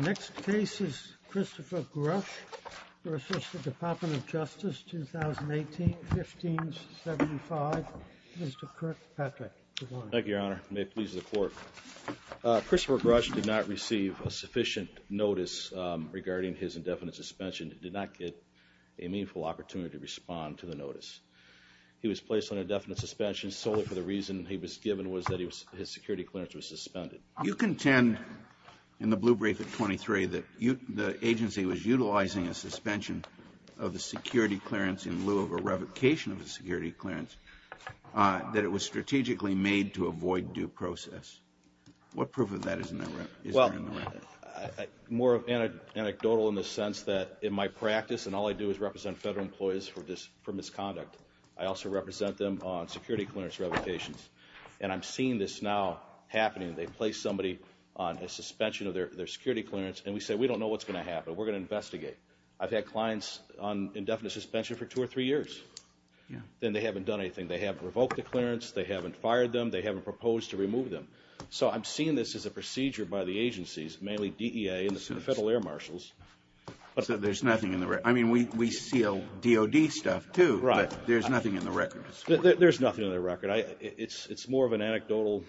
The next case is Christopher Grush v. DOJ, 2018, 1575. Mr. Kirkpatrick, good morning. Thank you, Your Honor. May it please the Court. Christopher Grush did not receive a sufficient notice regarding his indefinite suspension. He did not get a meaningful opportunity to respond to the notice. He was placed on indefinite suspension solely for the reason he was given was that his security clearance was suspended. You contend in the blue brief at 23 that the agency was utilizing a suspension of the security clearance in lieu of a revocation of the security clearance that it was strategically made to avoid due process. What proof of that is there in the record? More anecdotal in the sense that in my practice, and all I do is represent federal employees for misconduct, I also represent them on security clearance revocations. And I'm seeing this now happening. They place somebody on a suspension of their security clearance, and we say we don't know what's going to happen. We're going to investigate. I've had clients on indefinite suspension for two or three years. Then they haven't done anything. They haven't revoked the clearance. They haven't fired them. They haven't proposed to remove them. So I'm seeing this as a procedure by the agencies, mainly DEA and the Federal Air Marshals. So there's nothing in the record. I mean, we seal DOD stuff, too, but there's nothing in the record. There's nothing in the record. It's more of an anecdotal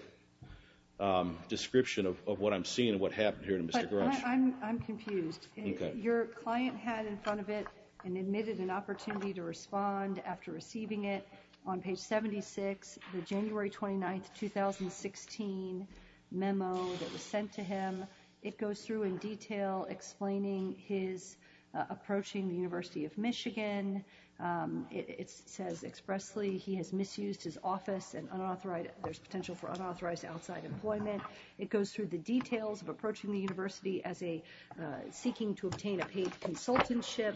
description of what I'm seeing and what happened here to Mr. Grush. I'm confused. Your client had in front of it and admitted an opportunity to respond after receiving it on page 76, the January 29, 2016 memo that was sent to him. It goes through in detail explaining his approaching the University of Michigan. It says expressly he has misused his office and there's potential for unauthorized outside employment. It goes through the details of approaching the university as seeking to obtain a paid consultanship.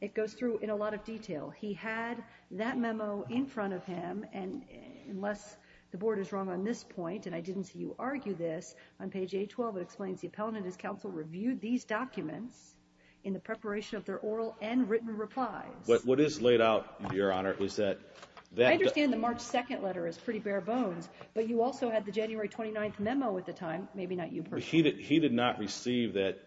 It goes through in a lot of detail. He had that memo in front of him, and unless the board is wrong on this point, and I didn't see you argue this, on page 812 it explains the appellant and his counsel reviewed these documents in the preparation of their oral and written replies. But what is laid out, Your Honor, is that... I understand the March 2nd letter is pretty bare bones, but you also had the January 29th memo at the time, maybe not you personally. He did not receive that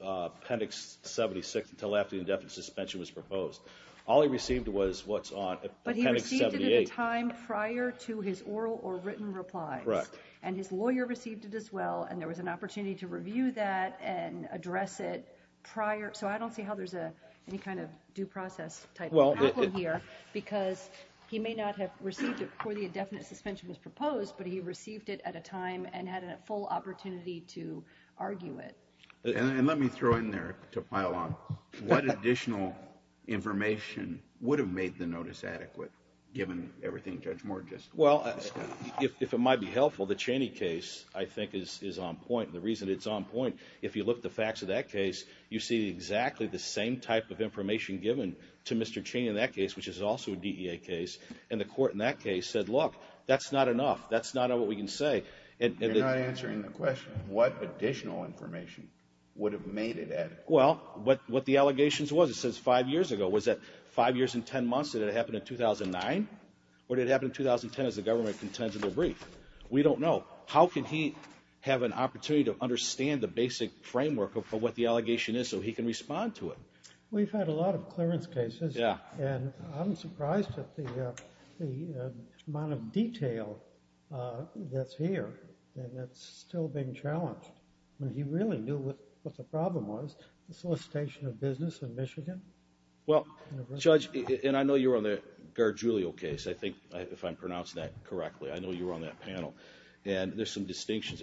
appendix 76 until after the indefinite suspension was proposed. All he received was what's on appendix 78. But he received it at a time prior to his oral or written replies. Right. And his lawyer received it as well, and there was an opportunity to review that and address it prior. So I don't see how there's any kind of due process type problem here because he may not have received it before the indefinite suspension was proposed, but he received it at a time and had a full opportunity to argue it. And let me throw in there, to pile on, what additional information would have made the notice adequate, given everything Judge Moore just... Well, if it might be helpful, the Cheney case I think is on point, and the reason it's on point, if you look at the facts of that case, you see exactly the same type of information given to Mr. Cheney in that case, which is also a DEA case, and the court in that case said, look, that's not enough. That's not what we can say. You're not answering the question. What additional information would have made it adequate? Well, what the allegations was, it says five years ago. Was that five years and 10 months? Did it happen in 2009? Or did it happen in 2010 as the government contends in the brief? We don't know. How can he have an opportunity to understand the basic framework of what the allegation is so he can respond to it? We've had a lot of clearance cases, and I'm surprised at the amount of detail that's here, and that's still being challenged. He really knew what the problem was, the solicitation of business in Michigan. Well, Judge, and I know you were on the Gargiulio case, I think, if I'm pronouncing that correctly. I know you were on that panel, and there's some distinctions.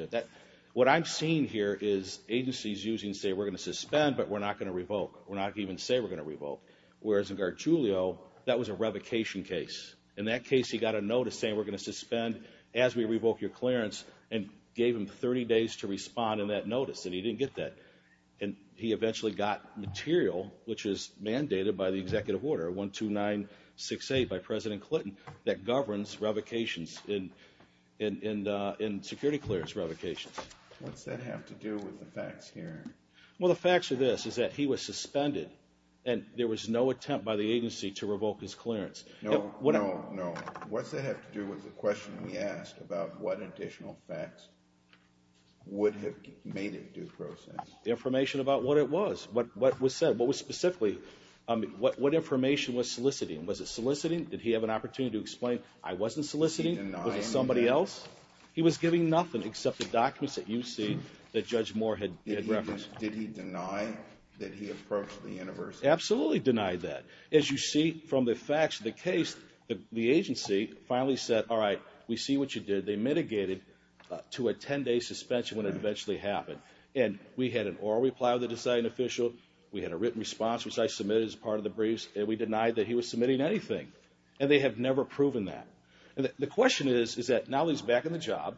What I'm seeing here is agencies using, say, we're going to suspend, but we're not going to revoke. We're not even going to say we're going to revoke, whereas in Gargiulio, that was a revocation case. In that case, he got a notice saying we're going to suspend as we revoke your clearance and gave him 30 days to respond in that notice, and he didn't get that. And he eventually got material, which was mandated by the executive order, 12968 by President Clinton, that governs revocations in security clearance revocations. What's that have to do with the facts here? Well, the facts are this, is that he was suspended, and there was no attempt by the agency to revoke his clearance. No, no, no. What's that have to do with the question we asked about what additional facts would have made it due process? Absolutely deny that. As you see from the facts of the case, the agency finally said, all right, we see what you did. They mitigated to a 10-day suspension when it eventually happened, and we had an oral reply with the deciding official. We had a written response, which I submitted as part of the briefs, and we denied that he was submitting anything, and they have never proven that. The question is, is that now he's back in the job,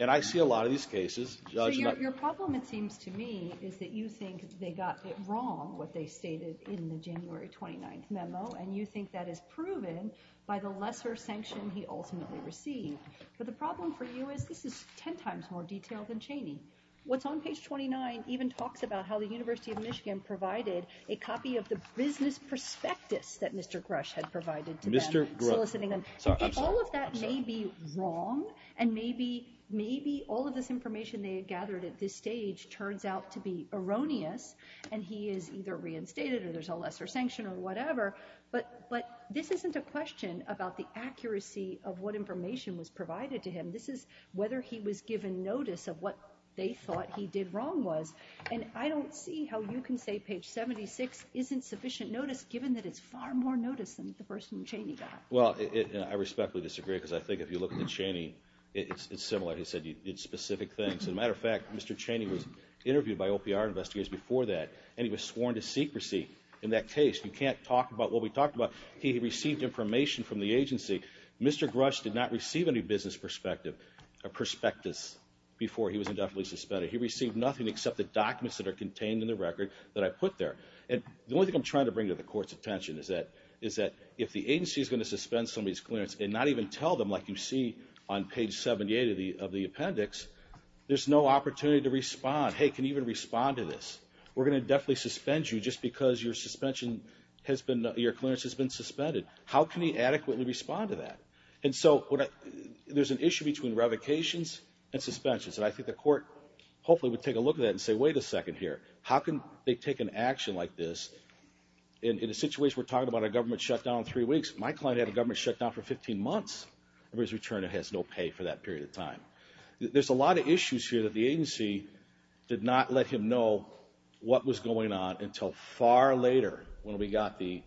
and I see a lot of these cases. Your problem, it seems to me, is that you think they got it wrong, what they stated in the January 29th memo, and you think that is proven by the lesser sanction he ultimately received. But the problem for you is this is 10 times more detailed than Cheney. What's on page 29 even talks about how the University of Michigan provided a copy of the business prospectus that Mr. Grush had provided to them, soliciting them. All of that may be wrong, and maybe all of this information they had gathered at this stage turns out to be erroneous, and he is either reinstated or there's a lesser sanction or whatever, but this isn't a question about the accuracy of what information was provided to him. This is whether he was given notice of what they thought he did wrong was, and I don't see how you can say page 76 isn't sufficient notice given that it's far more notice than the person Cheney got. Well, I respectfully disagree because I think if you look at Cheney, it's similar. He said he did specific things. As a matter of fact, Mr. Cheney was interviewed by OPR investigators before that, and he was sworn to secrecy in that case. You can't talk about what we talked about. He received information from the agency. Mr. Grush did not receive any business prospectus before he was indefinitely suspended. He received nothing except the documents that are contained in the record that I put there. The only thing I'm trying to bring to the court's attention is that if the agency is going to suspend somebody's clearance and not even tell them, like you see on page 78 of the appendix, there's no opportunity to respond. Hey, can you even respond to this? We're going to definitely suspend you just because your suspension has been, your clearance has been suspended. How can he adequately respond to that? And so there's an issue between revocations and suspensions, and I think the court hopefully would take a look at that and say, wait a second here. How can they take an action like this in a situation we're talking about a government shutdown in three weeks? My client had a government shutdown for 15 months. For his return, it has no pay for that period of time. There's a lot of issues here that the agency did not let him know what was going on until far later when we got the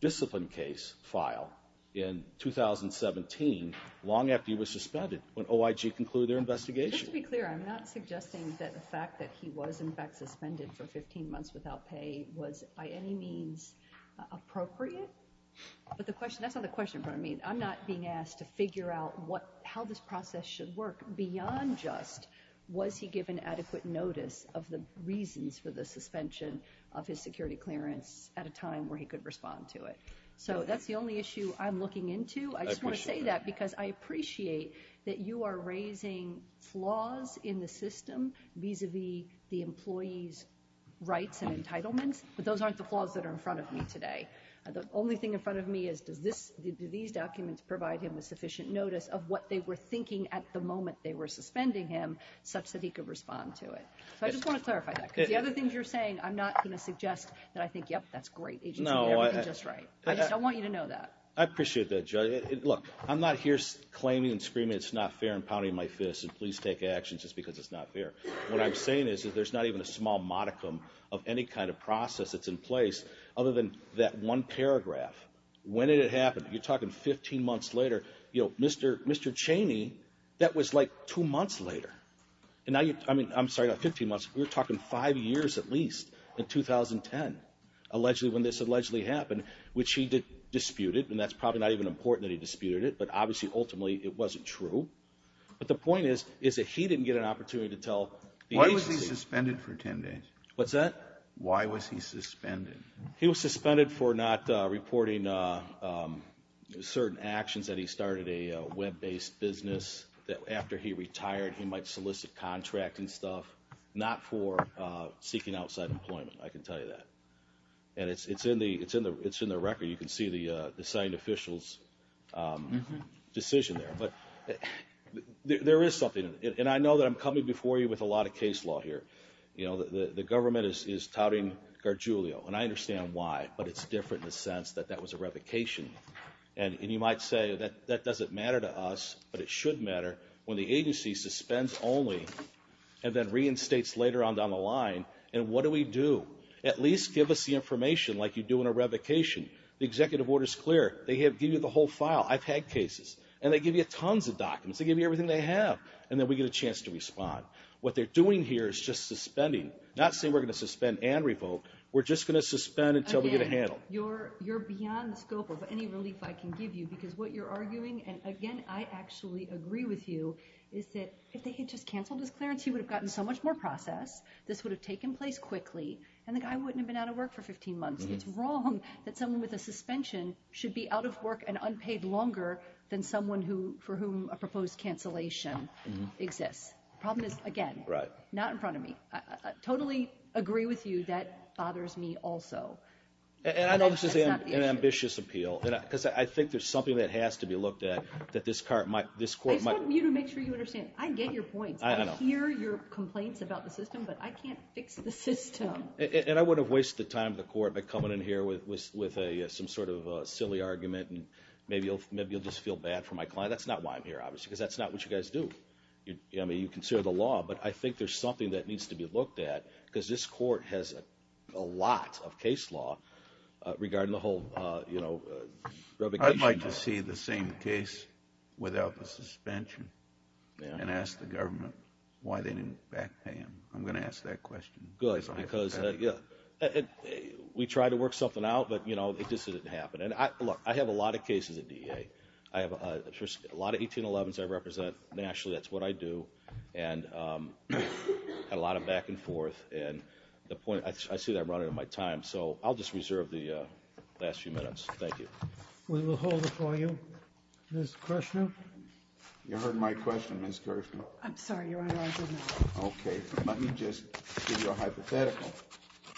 discipline case file in 2017, long after he was suspended, when OIG concluded their investigation. Just to be clear, I'm not suggesting that the fact that he was in fact suspended for 15 months without pay was by any means appropriate. But the question, that's not the question, but I mean, I'm not being asked to figure out how this process should work. Beyond just was he given adequate notice of the reasons for the suspension of his security clearance at a time where he could respond to it. So that's the only issue I'm looking into. I just want to say that because I appreciate that you are raising flaws in the system vis-a-vis the employee's rights and entitlements, but those aren't the flaws that are in front of me today. The only thing in front of me is do these documents provide him with sufficient notice of what they were thinking at the moment they were suspending him such that he could respond to it. So I just want to clarify that. Because the other things you're saying, I'm not going to suggest that I think, yep, that's great. The agency did everything just right. I just don't want you to know that. I appreciate that, Judge. Look, I'm not here claiming and screaming it's not fair and pounding my fist and please take action just because it's not fair. What I'm saying is that there's not even a small modicum of any kind of process that's in place other than that one paragraph. When did it happen? You're talking 15 months later. Mr. Cheney, that was like two months later. I'm sorry, not 15 months. We're talking five years at least in 2010, when this allegedly happened, which he disputed. And that's probably not even important that he disputed it. But obviously, ultimately, it wasn't true. But the point is that he didn't get an opportunity to tell the agency. Why was he suspended for 10 days? What's that? Why was he suspended? He was suspended for not reporting certain actions that he started a web-based business that after he retired he might solicit contracts and stuff. Not for seeking outside employment, I can tell you that. And it's in the record. You can see the assigned official's decision there. There is something. And I know that I'm coming before you with a lot of case law here. The government is touting Gargiulio, and I understand why. But it's different in the sense that that was a revocation. And you might say, that doesn't matter to us. But it should matter when the agency suspends only and then reinstates later on down the line. And what do we do? At least give us the information like you do in a revocation. The executive order's clear. They give you the whole file. I've had cases. And they give you tons of documents. They give you everything they have. And then we get a chance to respond. What they're doing here is just suspending. Not saying we're going to suspend and revoke. We're just going to suspend until we get a handle. Again, you're beyond the scope of any relief I can give you. Because what you're arguing, and again, I actually agree with you, is that if they had just canceled his clearance, he would have gotten so much more process. This would have taken place quickly. And the guy wouldn't have been out of work for 15 months. It's wrong that someone with a suspension should be out of work and unpaid longer than someone for whom a proposed cancellation exists. The problem is, again, not in front of me. I totally agree with you. That bothers me also. And I know this is an ambitious appeal. Because I think there's something that has to be looked at that this court might— I just want you to make sure you understand. I get your points. I hear your complaints about the system. But I can't fix the system. And I wouldn't have wasted the time of the court by coming in here with some sort of silly argument. And maybe you'll just feel bad for my client. That's not why I'm here, obviously, because that's not what you guys do. I mean, you consider the law. But I think there's something that needs to be looked at, because this court has a lot of case law regarding the whole revocation. I'd like to see the same case without the suspension and ask the government why they didn't back pay him. I'm going to ask that question. Good, because we tried to work something out, but it just didn't happen. And, look, I have a lot of cases at DEA. I have a lot of 1811s I represent nationally. That's what I do. And I had a lot of back and forth. And I see that running in my time. So I'll just reserve the last few minutes. Thank you. We will hold it for you. Ms. Kirshner? You heard my question, Ms. Kirshner. I'm sorry, Your Honor. Okay. Let me just give you a hypothetical.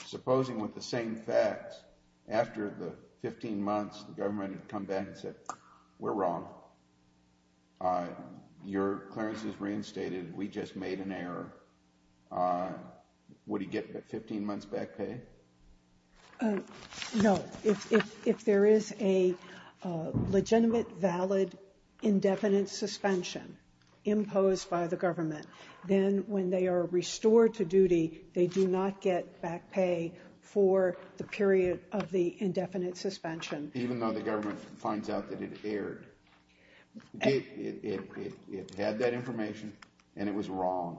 Supposing with the same facts, after the 15 months, the government had come back and said, we're wrong. Your clearance is reinstated. We just made an error. Would he get the 15 months back pay? No. If there is a legitimate, valid, indefinite suspension imposed by the government, then when they are restored to duty, they do not get back pay for the period of the indefinite suspension. Even though the government finds out that it erred. It had that information, and it was wrong.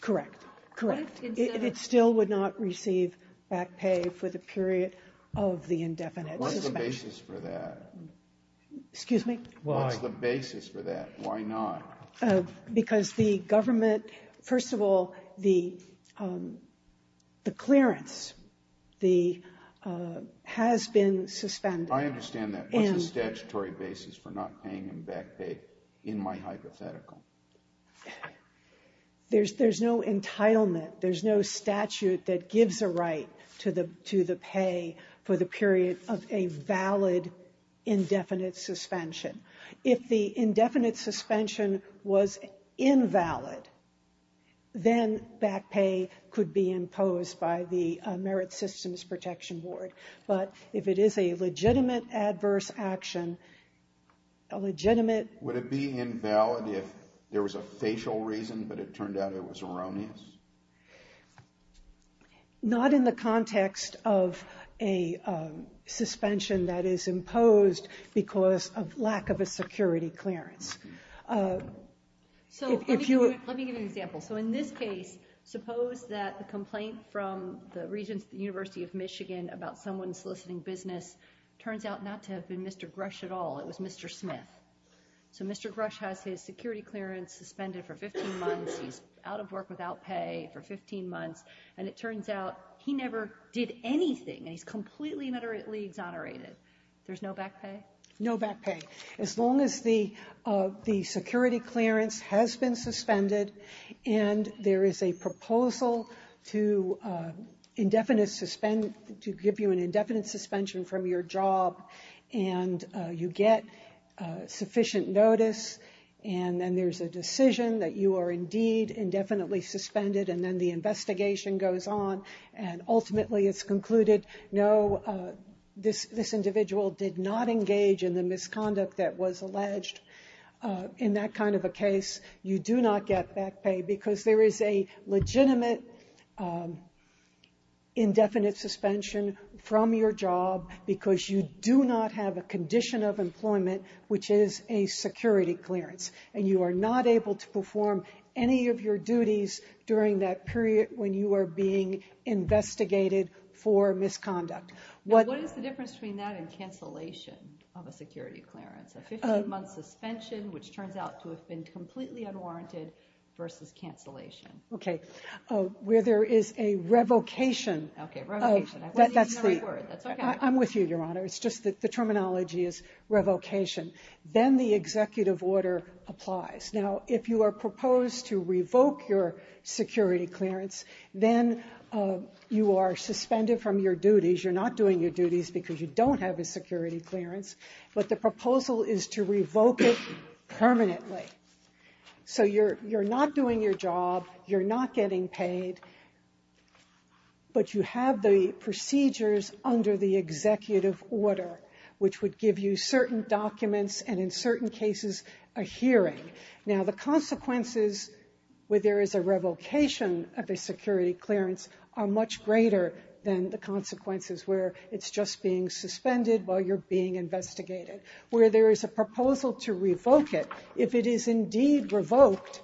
Correct. Correct. It still would not receive back pay for the period of the indefinite suspension. What's the basis for that? Excuse me? Why? What's the basis for that? Why not? Because the government, first of all, the clearance, the, has been suspended. I understand that. What's the statutory basis for not paying him back pay in my hypothetical? There's no entitlement. There's no statute that gives a right to the pay for the period of a valid, indefinite suspension. If the indefinite suspension was invalid, then back pay could be imposed by the Merit Systems Protection Board. But if it is a legitimate adverse action, a legitimate Would it be invalid if there was a facial reason, but it turned out it was erroneous? Not in the context of a suspension that is imposed because of lack of a security clearance. So let me give you an example. So in this case, suppose that the complaint from the Regents at the University of Michigan about someone soliciting business turns out not to have been Mr. Grush at all. It was Mr. Smith. So Mr. Grush has his security clearance suspended for 15 months. He's out of work without pay for 15 months, and it turns out he never did anything, and he's completely and utterly exonerated. There's no back pay? No back pay. As long as the security clearance has been suspended, and there is a proposal to give you an indefinite suspension from your job, and you get sufficient notice. And then there's a decision that you are indeed indefinitely suspended, and then the investigation goes on. And ultimately, it's concluded, no, this individual did not engage in the misconduct that was alleged. In that kind of a case, you do not get back pay because there is a legitimate indefinite suspension from your job because you do not have a condition of employment, which is a security clearance. And you are not able to perform any of your duties during that period when you are being investigated for misconduct. What is the difference between that and cancellation of a security clearance? A 15-month suspension, which turns out to have been completely unwarranted, versus cancellation? Okay, where there is a revocation. Okay, revocation. I wasn't using the right word. That's okay. I'm with you, Your Honor. It's just that the terminology is revocation. Then the executive order applies. Now, if you are proposed to revoke your security clearance, then you are suspended from your duties. You're not doing your duties because you don't have a security clearance, but the proposal is to revoke it permanently. So you're not doing your job. You're not getting paid. But you have the procedures under the executive order, which would give you certain documents and, in certain cases, a hearing. Now, the consequences where there is a revocation of a security clearance are much greater than the consequences where it's just being suspended while you're being investigated. Where there is a proposal to revoke it, if it is indeed revoked,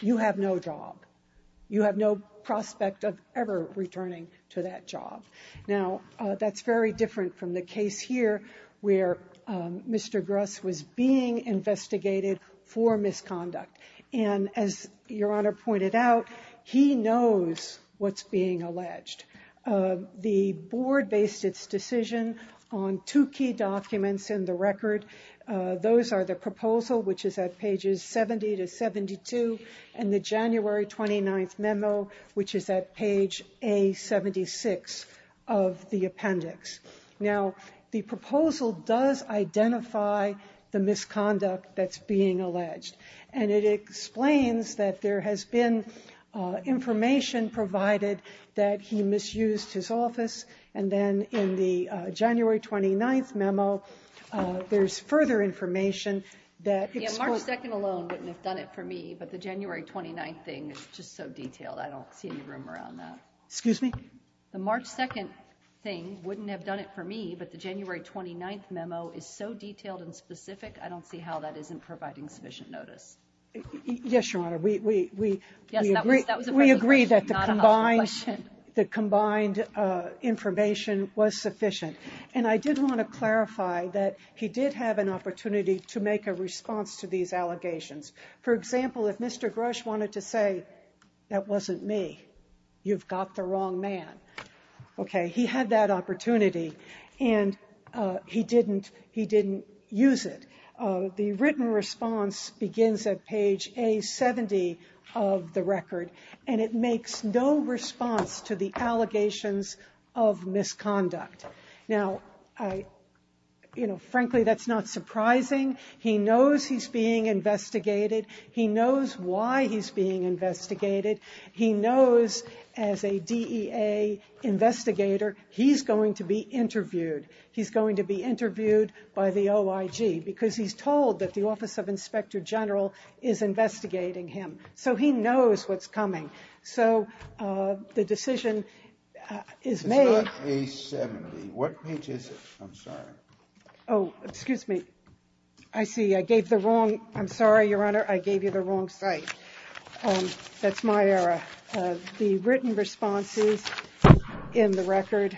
you have no job. You have no prospect of ever returning to that job. Now, that's very different from the case here where Mr. Gruss was being investigated for misconduct. And as Your Honor pointed out, he knows what's being alleged. The board based its decision on two key documents in the record. Those are the proposal, which is at pages 70 to 72, and the January 29th memo, which is at page A76 of the appendix. Now, the proposal does identify the misconduct that's being alleged. And it explains that there has been information provided that he misused his office. And then in the January 29th memo, there's further information that exposes. Yeah, March 2nd alone wouldn't have done it for me, but the January 29th thing is just so detailed. I don't see any rumor on that. Excuse me? The March 2nd thing wouldn't have done it for me, but the January 29th memo is so detailed and specific, I don't see how that isn't providing sufficient notice. Yes, Your Honor, we agree that the combined information was sufficient. And I did want to clarify that he did have an opportunity to make a response to these allegations. For example, if Mr. Gruss wanted to say, that wasn't me, you've got the wrong man. Okay, he had that opportunity, and he didn't use it. The written response begins at page A-70 of the record, and it makes no response to the allegations of misconduct. Now, frankly, that's not surprising. He knows he's being investigated. He knows why he's being investigated. He knows as a DEA investigator, he's going to be interviewed. He's going to be interviewed by the OIG, because he's told that the Office of Inspector General is investigating him. So he knows what's coming. So the decision is made... It's not A-70. What page is it? I'm sorry. Oh, excuse me. I see. I gave the wrong... I'm sorry, Your Honor, I gave you the wrong site. That's my error. The written response is in the record.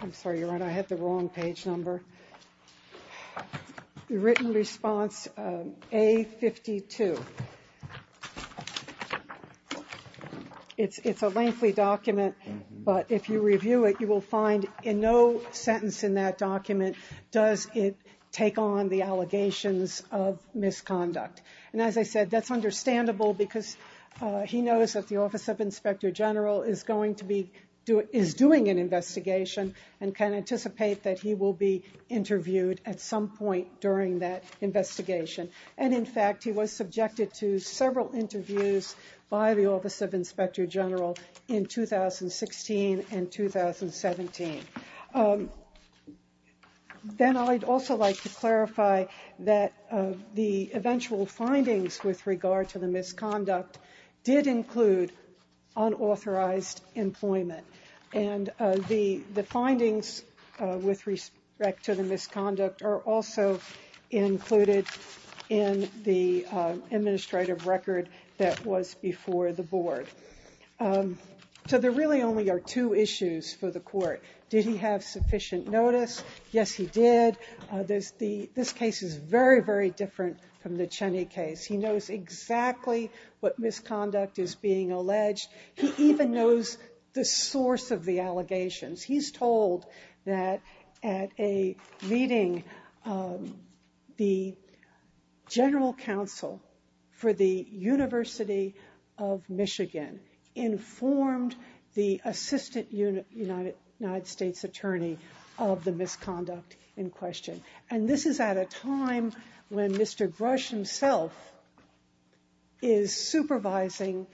I'm sorry, Your Honor, I had the wrong page number. The written response, A-52. It's a lengthy document, but if you review it, you will find in no sentence in that document does it take on the allegations of misconduct. And as I said, that's understandable because he knows that the Office of Inspector General is going to be... is doing an investigation and can anticipate that he will be interviewed at some point during that investigation. And, in fact, he was subjected to several interviews by the Office of Inspector General in 2016 and 2017. Then I'd also like to clarify that the eventual findings with regard to the misconduct did include unauthorized employment. And the findings with respect to the misconduct are also included in the administrative record that was before the board. So there really only are two issues for the court. Did he have sufficient notice? Yes, he did. This case is very, very different from the Cheney case. He knows exactly what misconduct is being alleged. He even knows the source of the allegations. He's told that at a meeting, the general counsel for the University of Michigan informed the assistant United States attorney of the misconduct in question. And this is at a time when Mr. Grush himself is supervising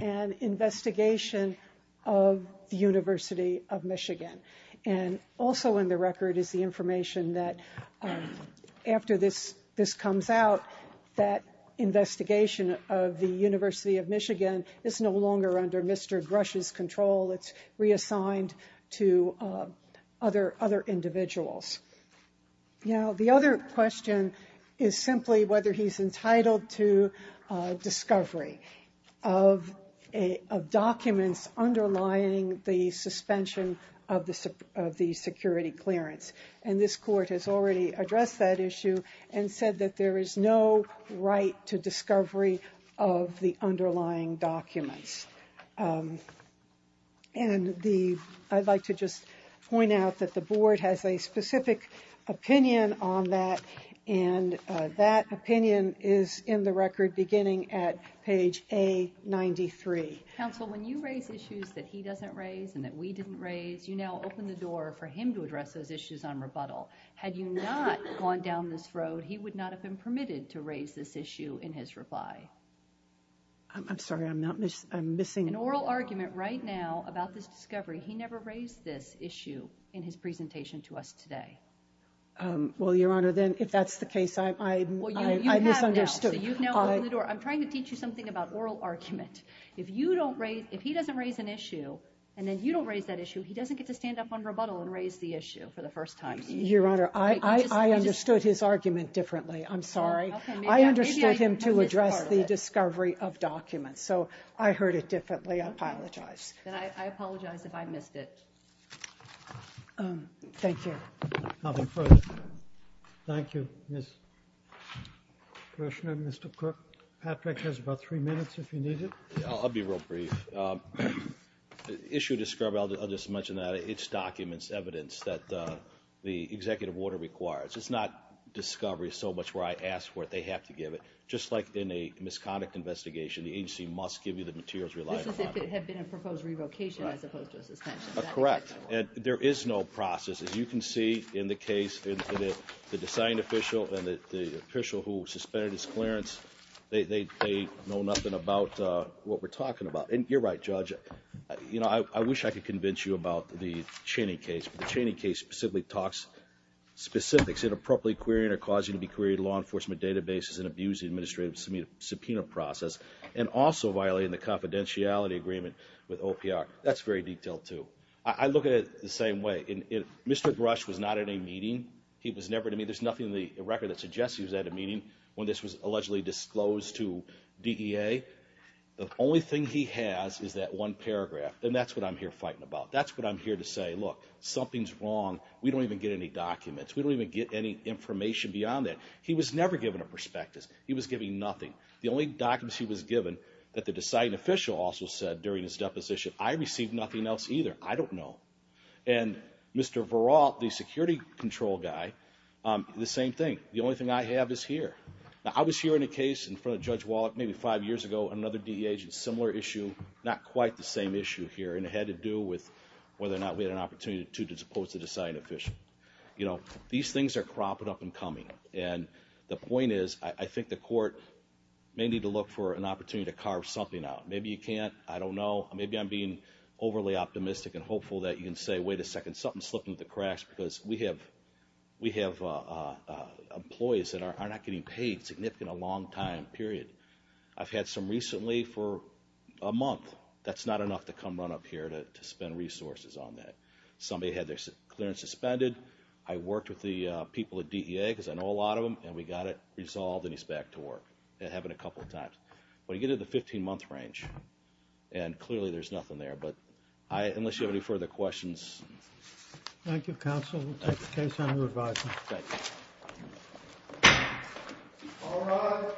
an investigation of the University of Michigan. And also in the record is the information that after this comes out, that investigation of the University of Michigan is no longer under Mr. Grush's control. It's reassigned to other individuals. Now the other question is simply whether he's entitled to discovery of documents underlying the suspension of the security clearance. And this court has already addressed that issue and said that there is no right to discovery of the underlying documents. And I'd like to just point out that the board has a specific opinion on that. And that opinion is in the record beginning at page A93. Counsel, when you raise issues that he doesn't raise and that we didn't raise, you now open the door for him to address those issues on rebuttal. Had you not gone down this road, he would not have been permitted to raise this issue in his reply. I'm sorry, I'm missing... An oral argument right now about this discovery. He never raised this issue in his presentation to us today. Well, Your Honor, then if that's the case, I misunderstood. I'm trying to teach you something about oral argument. If he doesn't raise an issue and then you don't raise that issue, he doesn't get to stand up on rebuttal and raise the issue for the first time. Your Honor, I understood his argument differently. I'm sorry. I understood him to address the discovery of documents, so I heard it differently. I apologize. Then I apologize if I missed it. Thank you. Nothing further. Thank you. Commissioner, Mr. Cook, Patrick has about three minutes if you need it. I'll be real brief. The issue of discovery, I'll just mention that. It's documents, evidence that the executive order requires. It's not discovery so much where I ask for it, they have to give it. Just like in a misconduct investigation, the agency must give you the materials reliable. This is if it had been a proposed revocation as opposed to a suspension. Correct. There is no process. As you can see in the case, the deciding official and the official who suspended his clearance, they know nothing about what we're talking about. You're right, Judge. I wish I could convince you about the Cheney case, but the Cheney case specifically talks specifics. It's inappropriately querying or causing to be queried law enforcement databases and abusing administrative subpoena process and also violating the confidentiality agreement with OPR. That's very detailed, too. I look at it the same way. Mr. Grush was not at a meeting. There's nothing in the record that suggests he was at a meeting when this was allegedly disclosed to DEA. The only thing he has is that one paragraph, and that's what I'm here fighting about. That's what I'm here to say. Look, something's wrong. We don't even get any documents. We don't even get any information beyond that. He was never given a prospectus. He was given nothing. The only documents he was given that the deciding official also said during his deposition, I received nothing else either. I don't know. And Mr. Verrall, the security control guy, the same thing. The only thing I have is here. Now, I was here in a case in front of Judge Wallach maybe five years ago, another DEA agent, similar issue, not quite the same issue here, and it had to do with whether or not we had an opportunity to dispose the deciding official. These things are cropping up and coming. And the point is, I think the court may need to look for an opportunity to carve something out. Maybe you can't. I don't know. Maybe I'm being overly optimistic and hopeful that you can say, wait a second, something slipped into the cracks, because we have employees that are not getting paid significantly in a long time, period. I've had some recently for a month. That's not enough to come run up here to spend resources on that. Somebody had their clearance suspended. I worked with the people at DEA because I know a lot of them, and we got it resolved, and he's back to work. It happened a couple of times. But you get into the 15-month range, and clearly there's nothing there. But unless you have any further questions. Thank you, counsel. We'll take the case under advisement. Thank you. All rise.